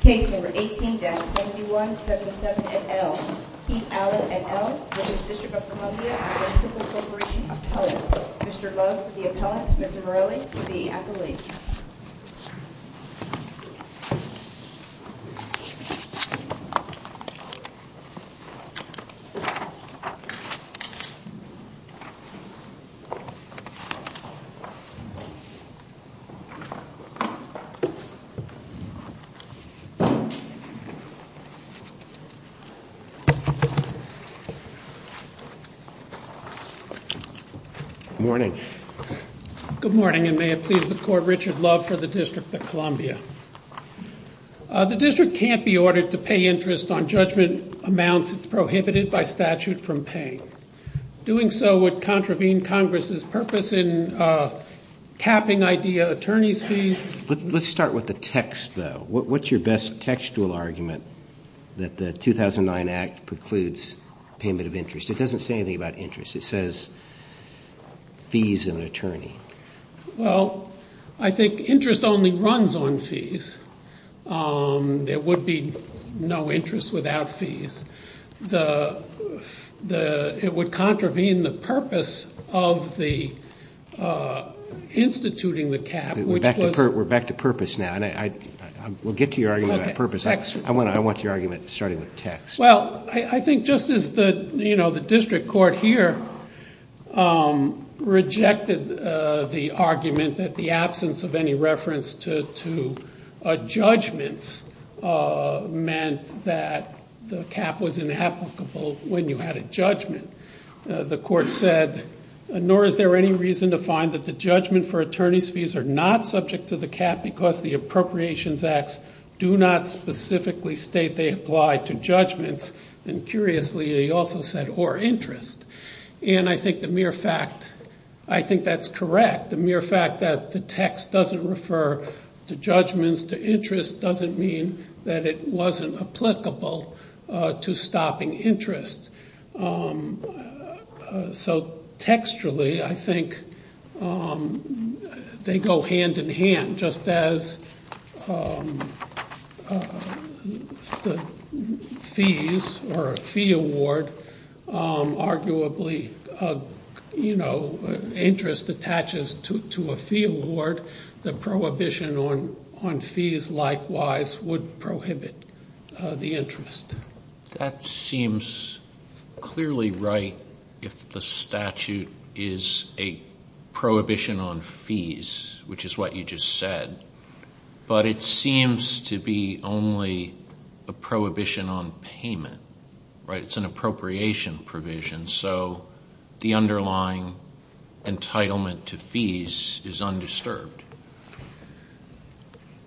Case number 18-7177-NL. Keith Allen, NL, District of Columbia, Municipal Corporation, Appellant. Mr. Love, the Appellant. Mr. Morelli, the Appellant. Good morning. Good morning, and may it please the Court, Richard Love for the District of Columbia. The District can't be ordered to pay interest on judgment amounts that's prohibited by statute from paying. Doing so would contravene Congress's purpose in capping IDEA attorney's fees. Let's start with the text, though. What's your best textual argument that the 2009 Act precludes payment of interest? It doesn't say anything about interest. It says fees and attorney. Well, I think interest only runs on fees. There would be no interest without fees. It would contravene the purpose of the instituting the cap. We're back to purpose now. We'll get to your argument about purpose. I want your argument starting with text. Well, I think just as the District Court here rejected the argument that the absence of any reference to judgments meant that the cap was inapplicable when you had a judgment, the Court said, nor is there any reason to find that the judgment for attorney's fees are not subject to the cap because the Appropriations Acts do not specifically state they apply to judgments, and curiously they also said or interest. I think that's correct. The mere fact that the text doesn't refer to judgments, to interest, doesn't mean that it wasn't applicable to stopping interest. So textually, I think they go hand in hand. Just as the fees or a fee award, arguably interest attaches to a fee award, the prohibition on fees likewise would prohibit the interest. That seems clearly right if the statute is a prohibition on fees, which is what you just said, but it seems to be only a prohibition on payment. It's an appropriation provision, so the underlying entitlement to fees is undisturbed.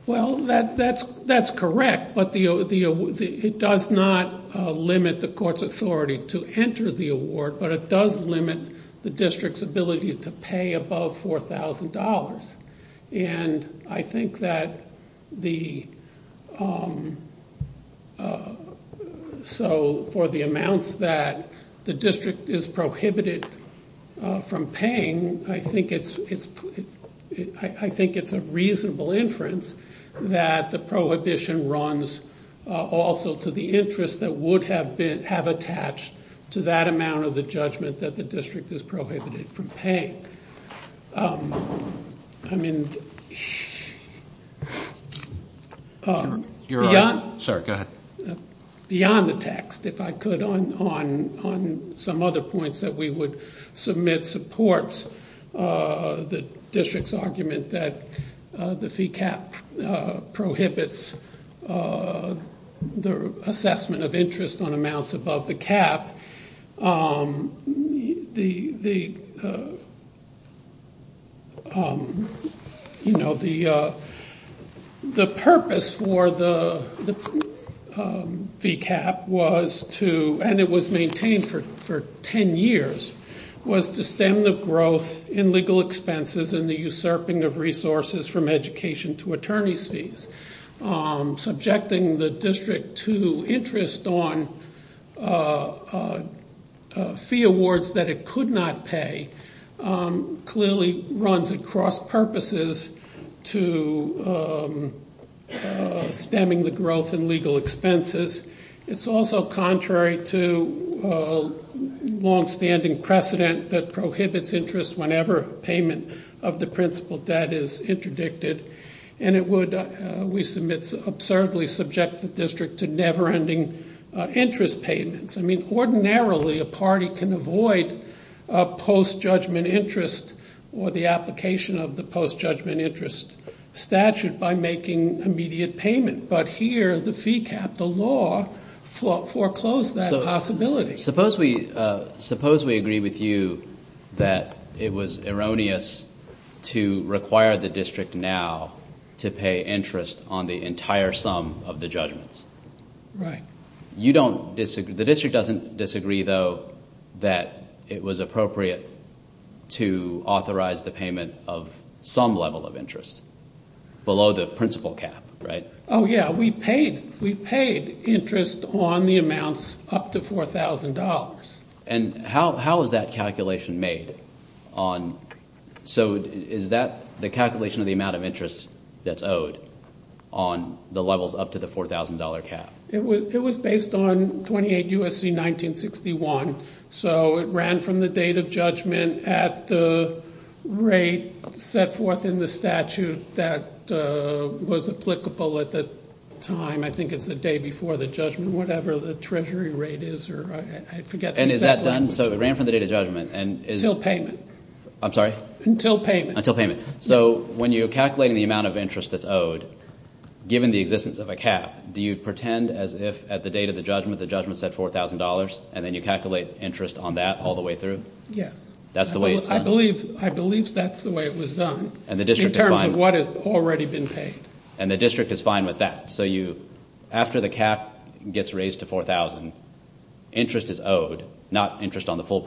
Well, that's correct, but it does not limit the Court's authority to enter the award, but it does limit the District's ability to pay above $4,000. I think that for the amounts that the District is prohibited from paying, I think it's a reasonable inference that the prohibition runs also to the interest that would have attached to that amount of the judgment that the District is prohibited from paying. I mean, beyond the text, if I could, on some other points that we would submit supports the District's argument that the fee cap prohibits the assessment of interest on amounts above the cap. The purpose for the fee cap was to, and it was maintained for 10 years, was to stem the growth in legal expenses and the usurping of resources from education to attorney's fees. Subjecting the District to interest on fee awards that it could not pay clearly runs across purposes to stemming the growth in legal expenses. It's also contrary to a longstanding precedent that prohibits interest whenever payment of the principal debt is interdicted, and it would, we submit, absurdly subject the District to never-ending interest payments. I mean, ordinarily a party can avoid a post-judgment interest or the application of the post-judgment interest statute by making immediate payment, but here the fee cap, the law, foreclosed that possibility. Suppose we agree with you that it was erroneous to require the District now to pay interest on the entire sum of the judgments. Right. You don't, the District doesn't disagree, though, that it was appropriate to authorize the payment of some level of interest below the principal cap, right? Oh, yeah, we paid interest on the amounts up to $4,000. And how is that calculation made on, so is that the calculation of the amount of interest that's owed on the levels up to the $4,000 cap? It was based on 28 U.S.C. 1961, so it ran from the date of judgment at the rate set forth in the statute that was applicable at the time. I think it's the day before the judgment, whatever the treasury rate is, or I forget the exact language. And is that done, so it ran from the date of judgment, and is— Until payment. I'm sorry? Until payment. Until payment. So when you're calculating the amount of interest that's owed, given the existence of a cap, do you pretend as if at the date of the judgment the judgment is at $4,000, and then you calculate interest on that all the way through? Yes. That's the way it's done? I believe that's the way it was done in terms of what has already been paid. And the District is fine with that? So after the cap gets raised to $4,000, interest is owed, not interest on the full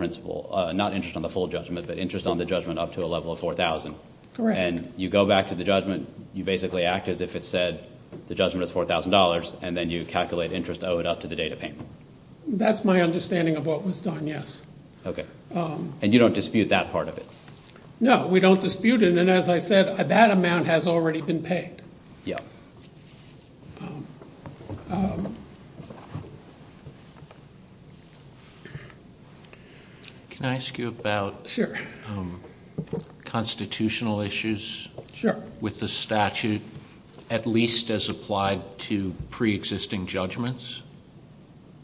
judgment, but interest on the judgment up to a level of $4,000? Correct. And you go back to the judgment, you basically act as if it said the judgment is $4,000, and then you calculate interest owed up to the date of payment? That's my understanding of what was done, yes. Okay. And you don't dispute that part of it? No, we don't dispute it, and as I said, that amount has already been paid. Yeah. Can I ask you about constitutional issues with the statute, at least as applied to preexisting judgments?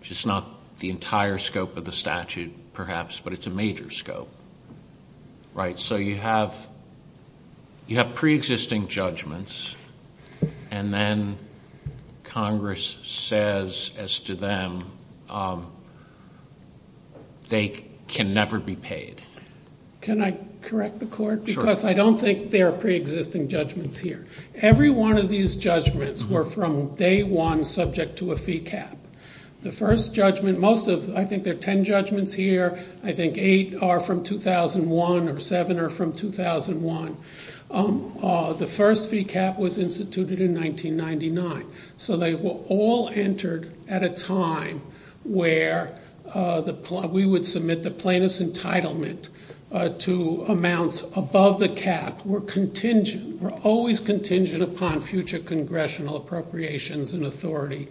It's not the entire scope of the statute, perhaps, but it's a major scope, right? So you have preexisting judgments, and then Congress says as to them, they can never be paid. Can I correct the Court? Sure. Because I don't think there are preexisting judgments here. Every one of these judgments were from day one subject to a fee cap. The first judgment, most of, I think there are ten judgments here, I think eight are from 2001 or seven are from 2001. The first fee cap was instituted in 1999. So they were all entered at a time where we would submit the plaintiff's entitlement to amounts above the cap. We're always contingent upon future congressional appropriations and authority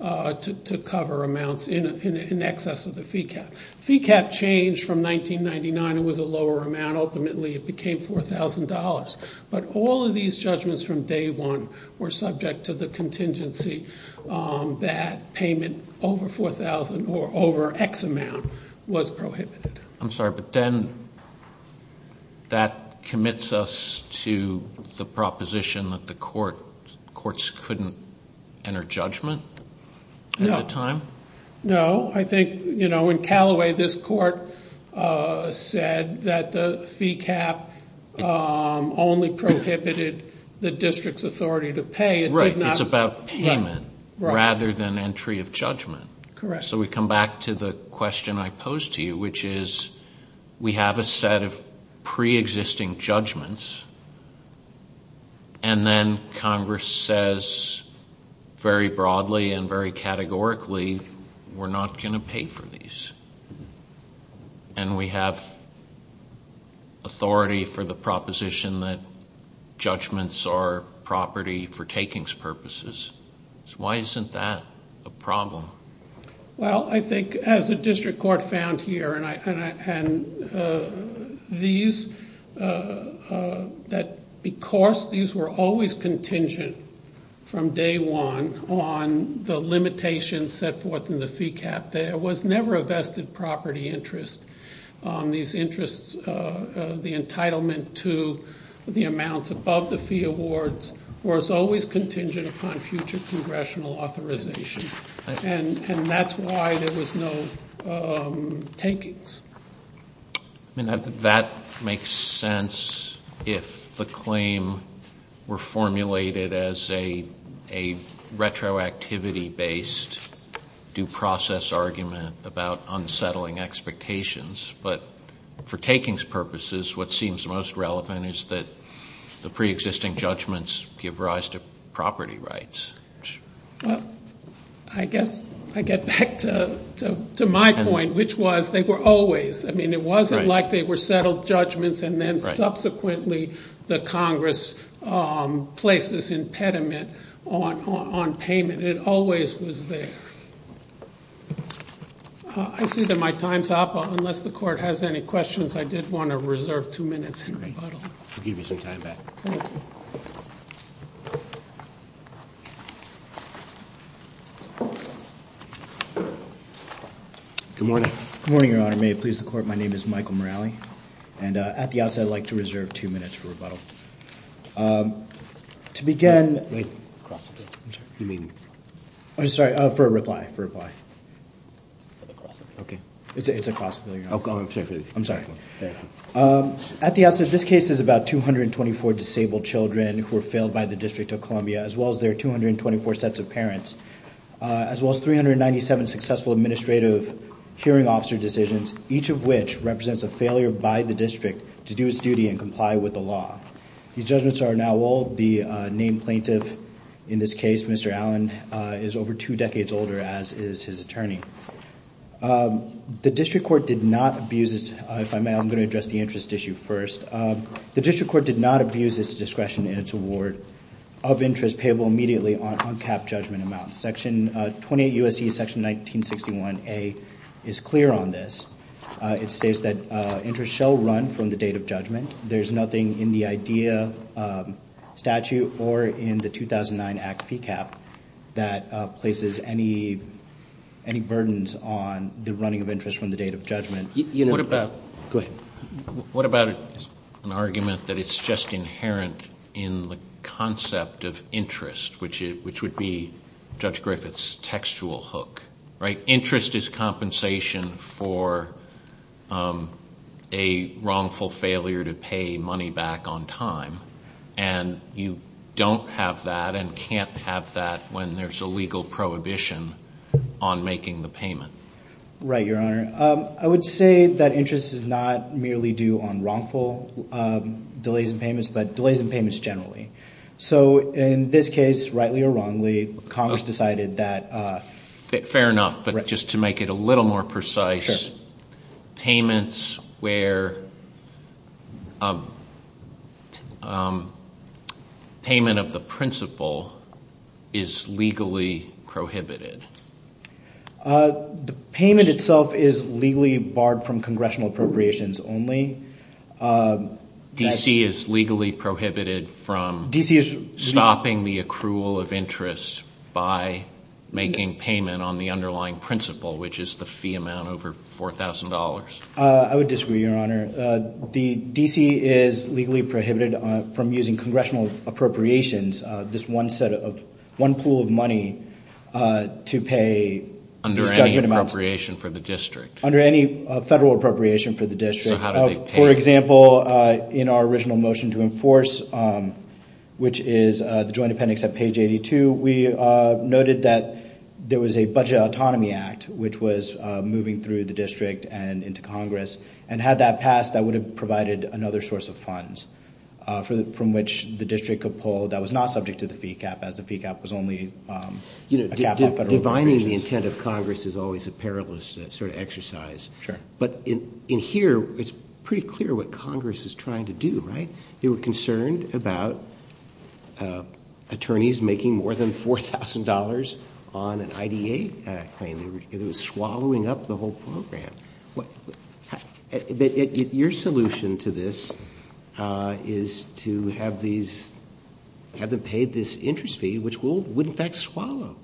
to cover amounts in excess of the fee cap. Fee cap changed from 1999. It was a lower amount. Ultimately, it became $4,000. But all of these judgments from day one were subject to the contingency that payment over $4,000 or over X amount was prohibited. I'm sorry, but then that commits us to the proposition that the courts couldn't enter judgment at the time? No. I think in Callaway, this court said that the fee cap only prohibited the district's authority to pay. Right. It's about payment rather than entry of judgment. Correct. So we come back to the question I posed to you, which is we have a set of pre-existing judgments, and then Congress says very broadly and very categorically, we're not going to pay for these. And we have authority for the proposition that judgments are property for takings purposes. Why isn't that a problem? Well, I think as the district court found here, and these, that because these were always contingent from day one on the limitations set forth in the fee cap, there was never a vested property interest. These interests, the entitlement to the amounts above the fee awards, was always contingent upon future congressional authorization. And that's why there was no takings. That makes sense if the claim were formulated as a retroactivity-based due process argument about unsettling expectations. But for takings purposes, what seems most relevant is that the pre-existing judgments give rise to property rights. Well, I guess I get back to my point, which was they were always. I mean, it wasn't like they were settled judgments and then subsequently the Congress placed this impediment on payment. It always was there. I see that my time's up. Unless the court has any questions, I did want to reserve two minutes in rebuttal. I'll give you some time back. Thank you. Good morning. Good morning, Your Honor. May it please the court, my name is Michael Morrelli. And at the outset, I'd like to reserve two minutes for rebuttal. To begin- Wait. You may leave. I'm sorry. For a reply, for a reply. For the cross-appeal. Okay. It's a cross-appeal, Your Honor. Oh, go ahead. I'm sorry. At the outset, this case is about 224 disabled children who were failed by the District of Columbia, as well as their 224 sets of parents, as well as 397 successful administrative hearing officer decisions, each of which represents a failure by the district to do its duty and comply with the law. These judgments are now old. The named plaintiff in this case, Mr. Allen, is over two decades older, as is his attorney. The district court did not abuse this- If I may, I'm going to address the interest issue first. The district court did not abuse its discretion in its award of interest payable immediately on uncapped judgment amounts. Section 28 U.S.C. section 1961A is clear on this. It states that interest shall run from the date of judgment. There's nothing in the IDEA statute or in the 2009 Act PCAPP that places any burdens on the running of interest from the date of judgment. What about- Go ahead. What about an argument that it's just inherent in the concept of interest, which would be Judge Griffith's textual hook, right? A wrongful failure to pay money back on time. And you don't have that and can't have that when there's a legal prohibition on making the payment. Right, Your Honor. I would say that interest is not merely due on wrongful delays in payments, but delays in payments generally. So in this case, rightly or wrongly, Congress decided that- Fair enough. But just to make it a little more precise, payments where payment of the principal is legally prohibited. The payment itself is legally barred from congressional appropriations only. D.C. is legally prohibited from stopping the accrual of interest by making payment on the underlying principal, which is the fee amount over $4,000. I would disagree, Your Honor. D.C. is legally prohibited from using congressional appropriations, this one set of, one pool of money to pay- Under any appropriation for the district. Under any federal appropriation for the district. So how do they pay? For example, in our original motion to enforce, which is the joint appendix at page 82, we noted that there was a Budget Autonomy Act, which was moving through the district and into Congress. And had that passed, that would have provided another source of funds from which the district could pull that was not subject to the fee cap, as the fee cap was only a cap on federal appropriations. Divining the intent of Congress is always a perilous sort of exercise. Sure. But in here, it's pretty clear what Congress is trying to do, right? They were concerned about attorneys making more than $4,000 on an IDA claim. It was swallowing up the whole program. Your solution to this is to have these, have them pay this interest fee, which would in fact swallow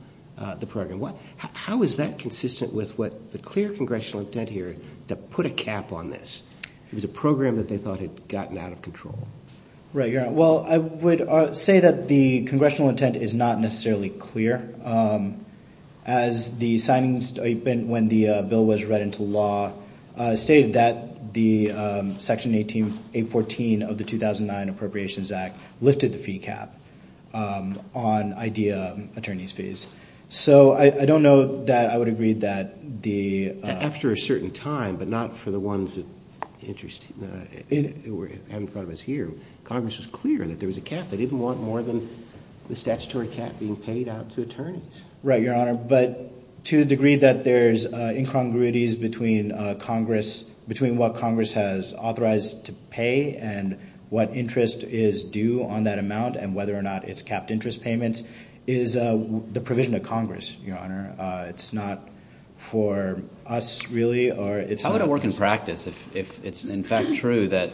the program. How is that consistent with the clear congressional intent here that put a cap on this? It was a program that they thought had gotten out of control. Right, you're right. Well, I would say that the congressional intent is not necessarily clear. As the signing statement when the bill was read into law stated that the Section 814 of the 2009 Appropriations Act lifted the fee cap on IDA attorneys' fees. So I don't know that I would agree that the— After a certain time, but not for the ones that interest, haven't thought of as here, Congress was clear that there was a cap. They didn't want more than the statutory cap being paid out to attorneys. Right, Your Honor. But to the degree that there's incongruities between Congress, between what Congress has authorized to pay and what interest is due on that amount and whether or not it's capped interest payments is the provision of Congress, Your Honor. It's not for us, really, or it's not— How would it work in practice if it's in fact true that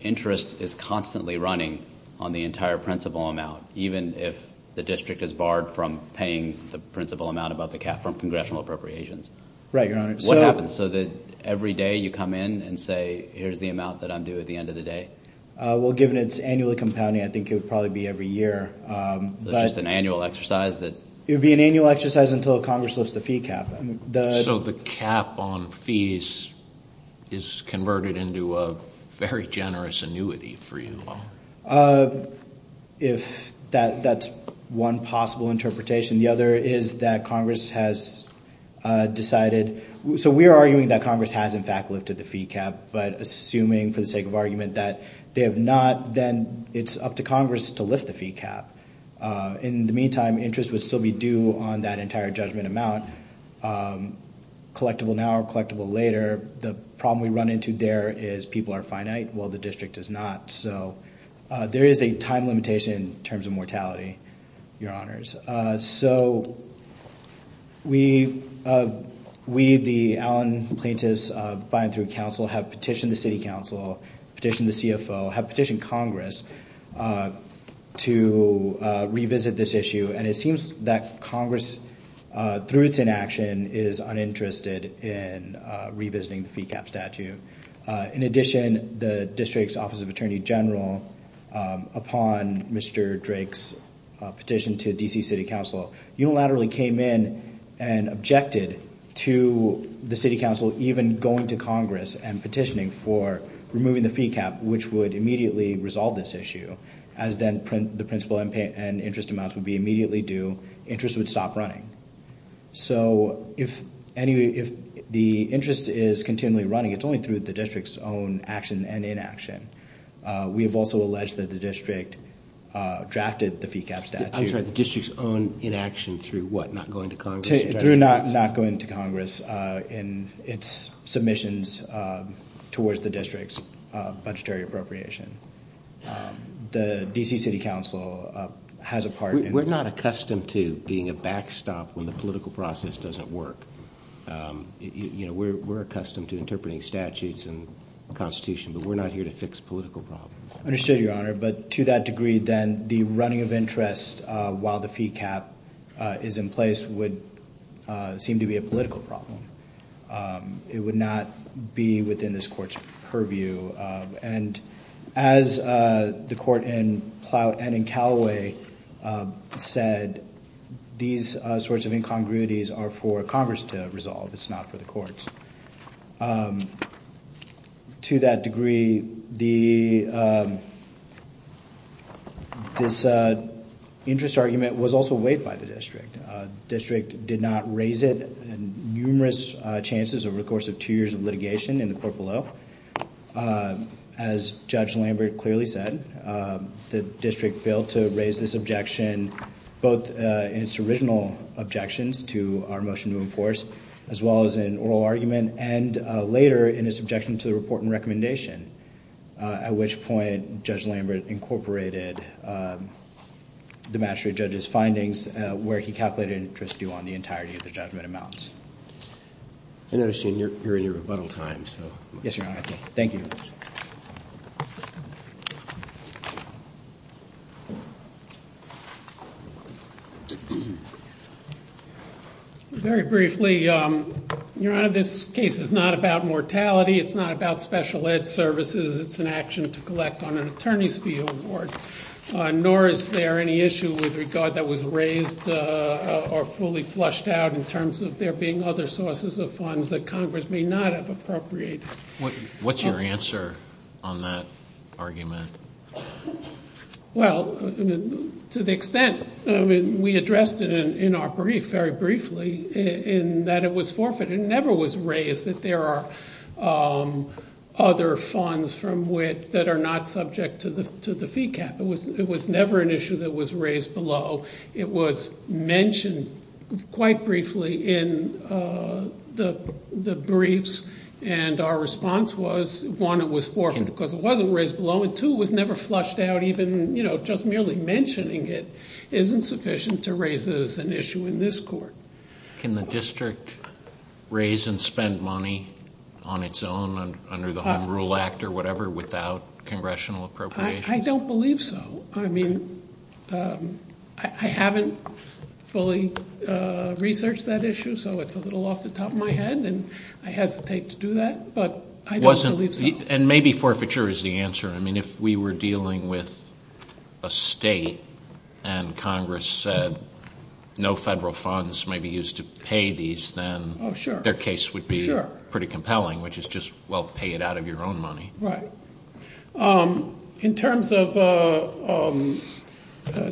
interest is constantly running on the entire principal amount, even if the district is barred from paying the principal amount about the cap from congressional appropriations? Right, Your Honor. What happens so that every day you come in and say, here's the amount that I'm due at the end of the day? Well, given it's annually compounding, I think it would probably be every year. So it's just an annual exercise that— It would be an annual exercise until Congress lifts the fee cap. So the cap on fees is converted into a very generous annuity for you. If that's one possible interpretation. The other is that Congress has decided— So we are arguing that Congress has in fact lifted the fee cap, but assuming for the sake of argument that they have not, then it's up to Congress to lift the fee cap. In the meantime, interest would still be due on that entire judgment amount, collectible now or collectible later. The problem we run into there is people are finite while the district is not. So there is a time limitation in terms of mortality, Your Honors. So we, the Allen Plaintiffs By-and-Through Council, have petitioned the City Council, petitioned the CFO, have petitioned Congress to revisit this issue. And it seems that Congress, through its inaction, is uninterested in revisiting the fee cap statute. In addition, the district's Office of Attorney General, upon Mr. Drake's petition to D.C. City Council, unilaterally came in and objected to the City Council even going to Congress and petitioning for removing the fee cap, which would immediately resolve this issue, as then the principal and interest amounts would be immediately due. Interest would stop running. So if the interest is continually running, it's only through the district's own action and inaction. We have also alleged that the district drafted the fee cap statute. I'm sorry, the district's own inaction through what, not going to Congress? Through not going to Congress and its submissions towards the district's budgetary appropriation. The D.C. City Council has a part in it. We're not accustomed to being a backstop when the political process doesn't work. We're accustomed to interpreting statutes and constitution, but we're not here to fix political problems. I understand, Your Honor, but to that degree, then, the running of interest while the fee cap is in place would seem to be a political problem. It would not be within this court's purview. And as the court in Plout and in Callaway said, these sorts of incongruities are for Congress to resolve. It's not for the courts. To that degree, this interest argument was also weighed by the district. The district did not raise it in numerous chances over the course of two years of litigation in the court below. As Judge Lambert clearly said, the district failed to raise this objection both in its original objections to our motion to enforce, as well as in oral argument, and later in its objection to the report and recommendation, at which point Judge Lambert incorporated the magistrate judge's findings where he calculated interest due on the entirety of the judgment amount. I notice you're in your rebuttal time. Yes, Your Honor. Thank you. Very briefly, Your Honor, this case is not about mortality. It's not about special ed services. It's an action to collect on an attorney's fee award. Nor is there any issue with regard that was raised or fully flushed out in terms of there being other sources of funds that Congress may not have appropriated. What's your answer on that argument? Well, to the extent we addressed it in our brief very briefly in that it was forfeited. It never was raised that there are other funds from which that are not subject to the fee cap. It was never an issue that was raised below. It was mentioned quite briefly in the briefs, and our response was, one, it was forfeited because it wasn't raised below, and two, it was never flushed out even just merely mentioning it isn't sufficient to raise it as an issue in this court. Can the district raise and spend money on its own under the Home Rule Act or whatever without congressional appropriations? I don't believe so. I mean, I haven't fully researched that issue, so it's a little off the top of my head, and I hesitate to do that, but I don't believe so. And maybe forfeiture is the answer. I mean, if we were dealing with a state and Congress said no federal funds may be used to pay these, then their case would be pretty compelling, which is just, well, pay it out of your own money. Right. In terms of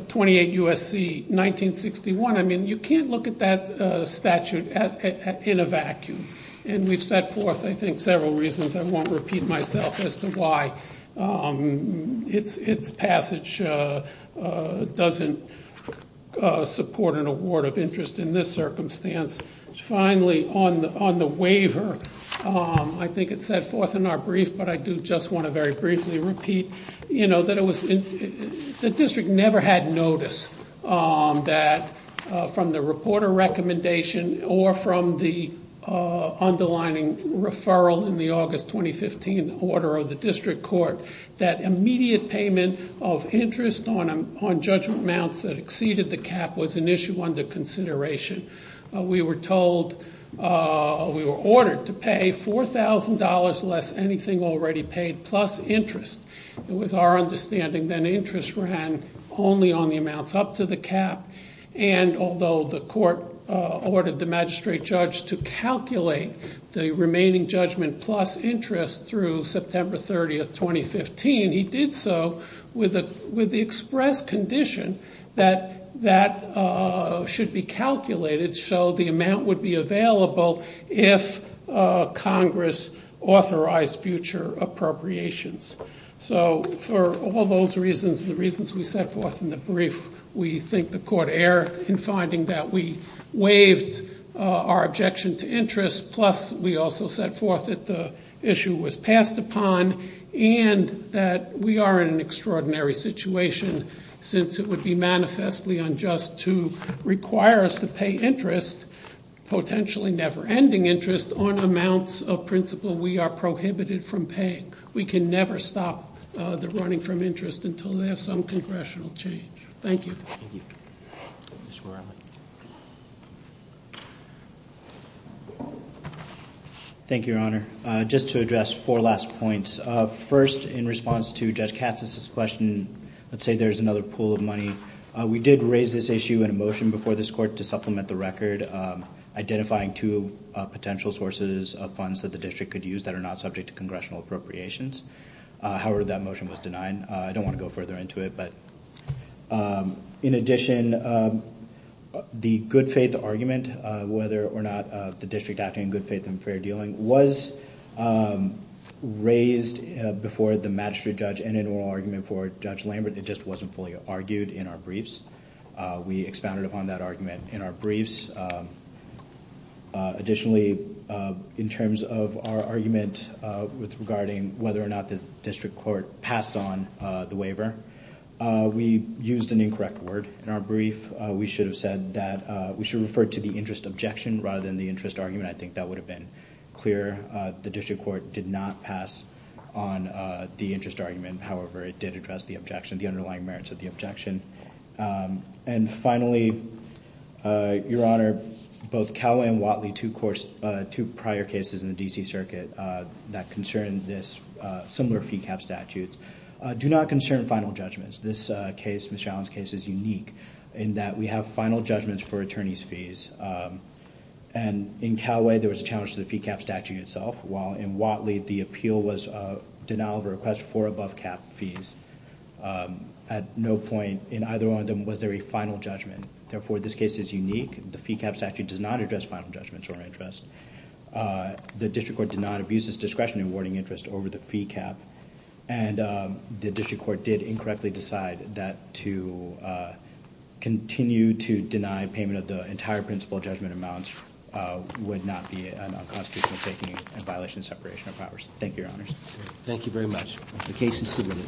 28 U.S.C. 1961, I mean, you can't look at that statute in a vacuum, and we've set forth, I think, several reasons. I won't repeat myself as to why its passage doesn't support an award of interest in this circumstance. Finally, on the waiver, I think it's set forth in our brief, but I do just want to very briefly repeat that the district never had notice that from the reporter recommendation or from the underlining referral in the August 2015 order of the district court that immediate payment of interest on judgment amounts that exceeded the cap was an issue under consideration. We were ordered to pay $4,000 less anything already paid plus interest. It was our understanding that interest ran only on the amounts up to the cap, and although the court ordered the magistrate judge to calculate the remaining judgment plus interest through September 30, 2015, he did so with the express condition that that should be calculated so the amount would be available if Congress authorized future appropriations. So for all those reasons, the reasons we set forth in the brief, we think the court erred in finding that we waived our objection to interest, plus we also set forth that the issue was passed upon and that we are in an extraordinary situation since it would be manifestly unjust to require us to pay interest, potentially never-ending interest, on amounts of principle we are prohibited from paying. We can never stop the running from interest until there is some congressional change. Thank you. Thank you, Your Honor. Just to address four last points. First, in response to Judge Katz's question, let's say there is another pool of money. We did raise this issue in a motion before this court to supplement the record, identifying two potential sources of funds that the district could use that are not subject to congressional appropriations. However, that motion was denied. I don't want to go further into it, but in addition, the good faith argument, whether or not the district acted in good faith and fair dealing, was raised before the magistrate judge in an oral argument for Judge Lambert. It just wasn't fully argued in our briefs. We expounded upon that argument in our briefs. Additionally, in terms of our argument regarding whether or not the district court passed on the waiver, we used an incorrect word in our brief. We should have said that we should refer to the interest objection rather than the interest argument. I think that would have been clearer. The district court did not pass on the interest argument. However, it did address the objection, the underlying merits of the objection. Finally, Your Honor, both Calway and Whatley, two prior cases in the D.C. Circuit that concerned this similar fee cap statute, do not concern final judgments. This case, Ms. Shallon's case, is unique in that we have final judgments for attorney's fees. In Calway, there was a challenge to the fee cap statute itself, while in Whatley, the appeal was a denial of request for above-cap fees. At no point in either one of them was there a final judgment. Therefore, this case is unique. The fee cap statute does not address final judgments or interest. The district court did not abuse its discretion in awarding interest over the fee cap, and the district court did incorrectly decide that to continue to deny payment of the entire principal judgment amounts would not be an unconstitutional taking in violation of separation of powers. Thank you, Your Honors. Thank you very much. The case is submitted. The case is submitted.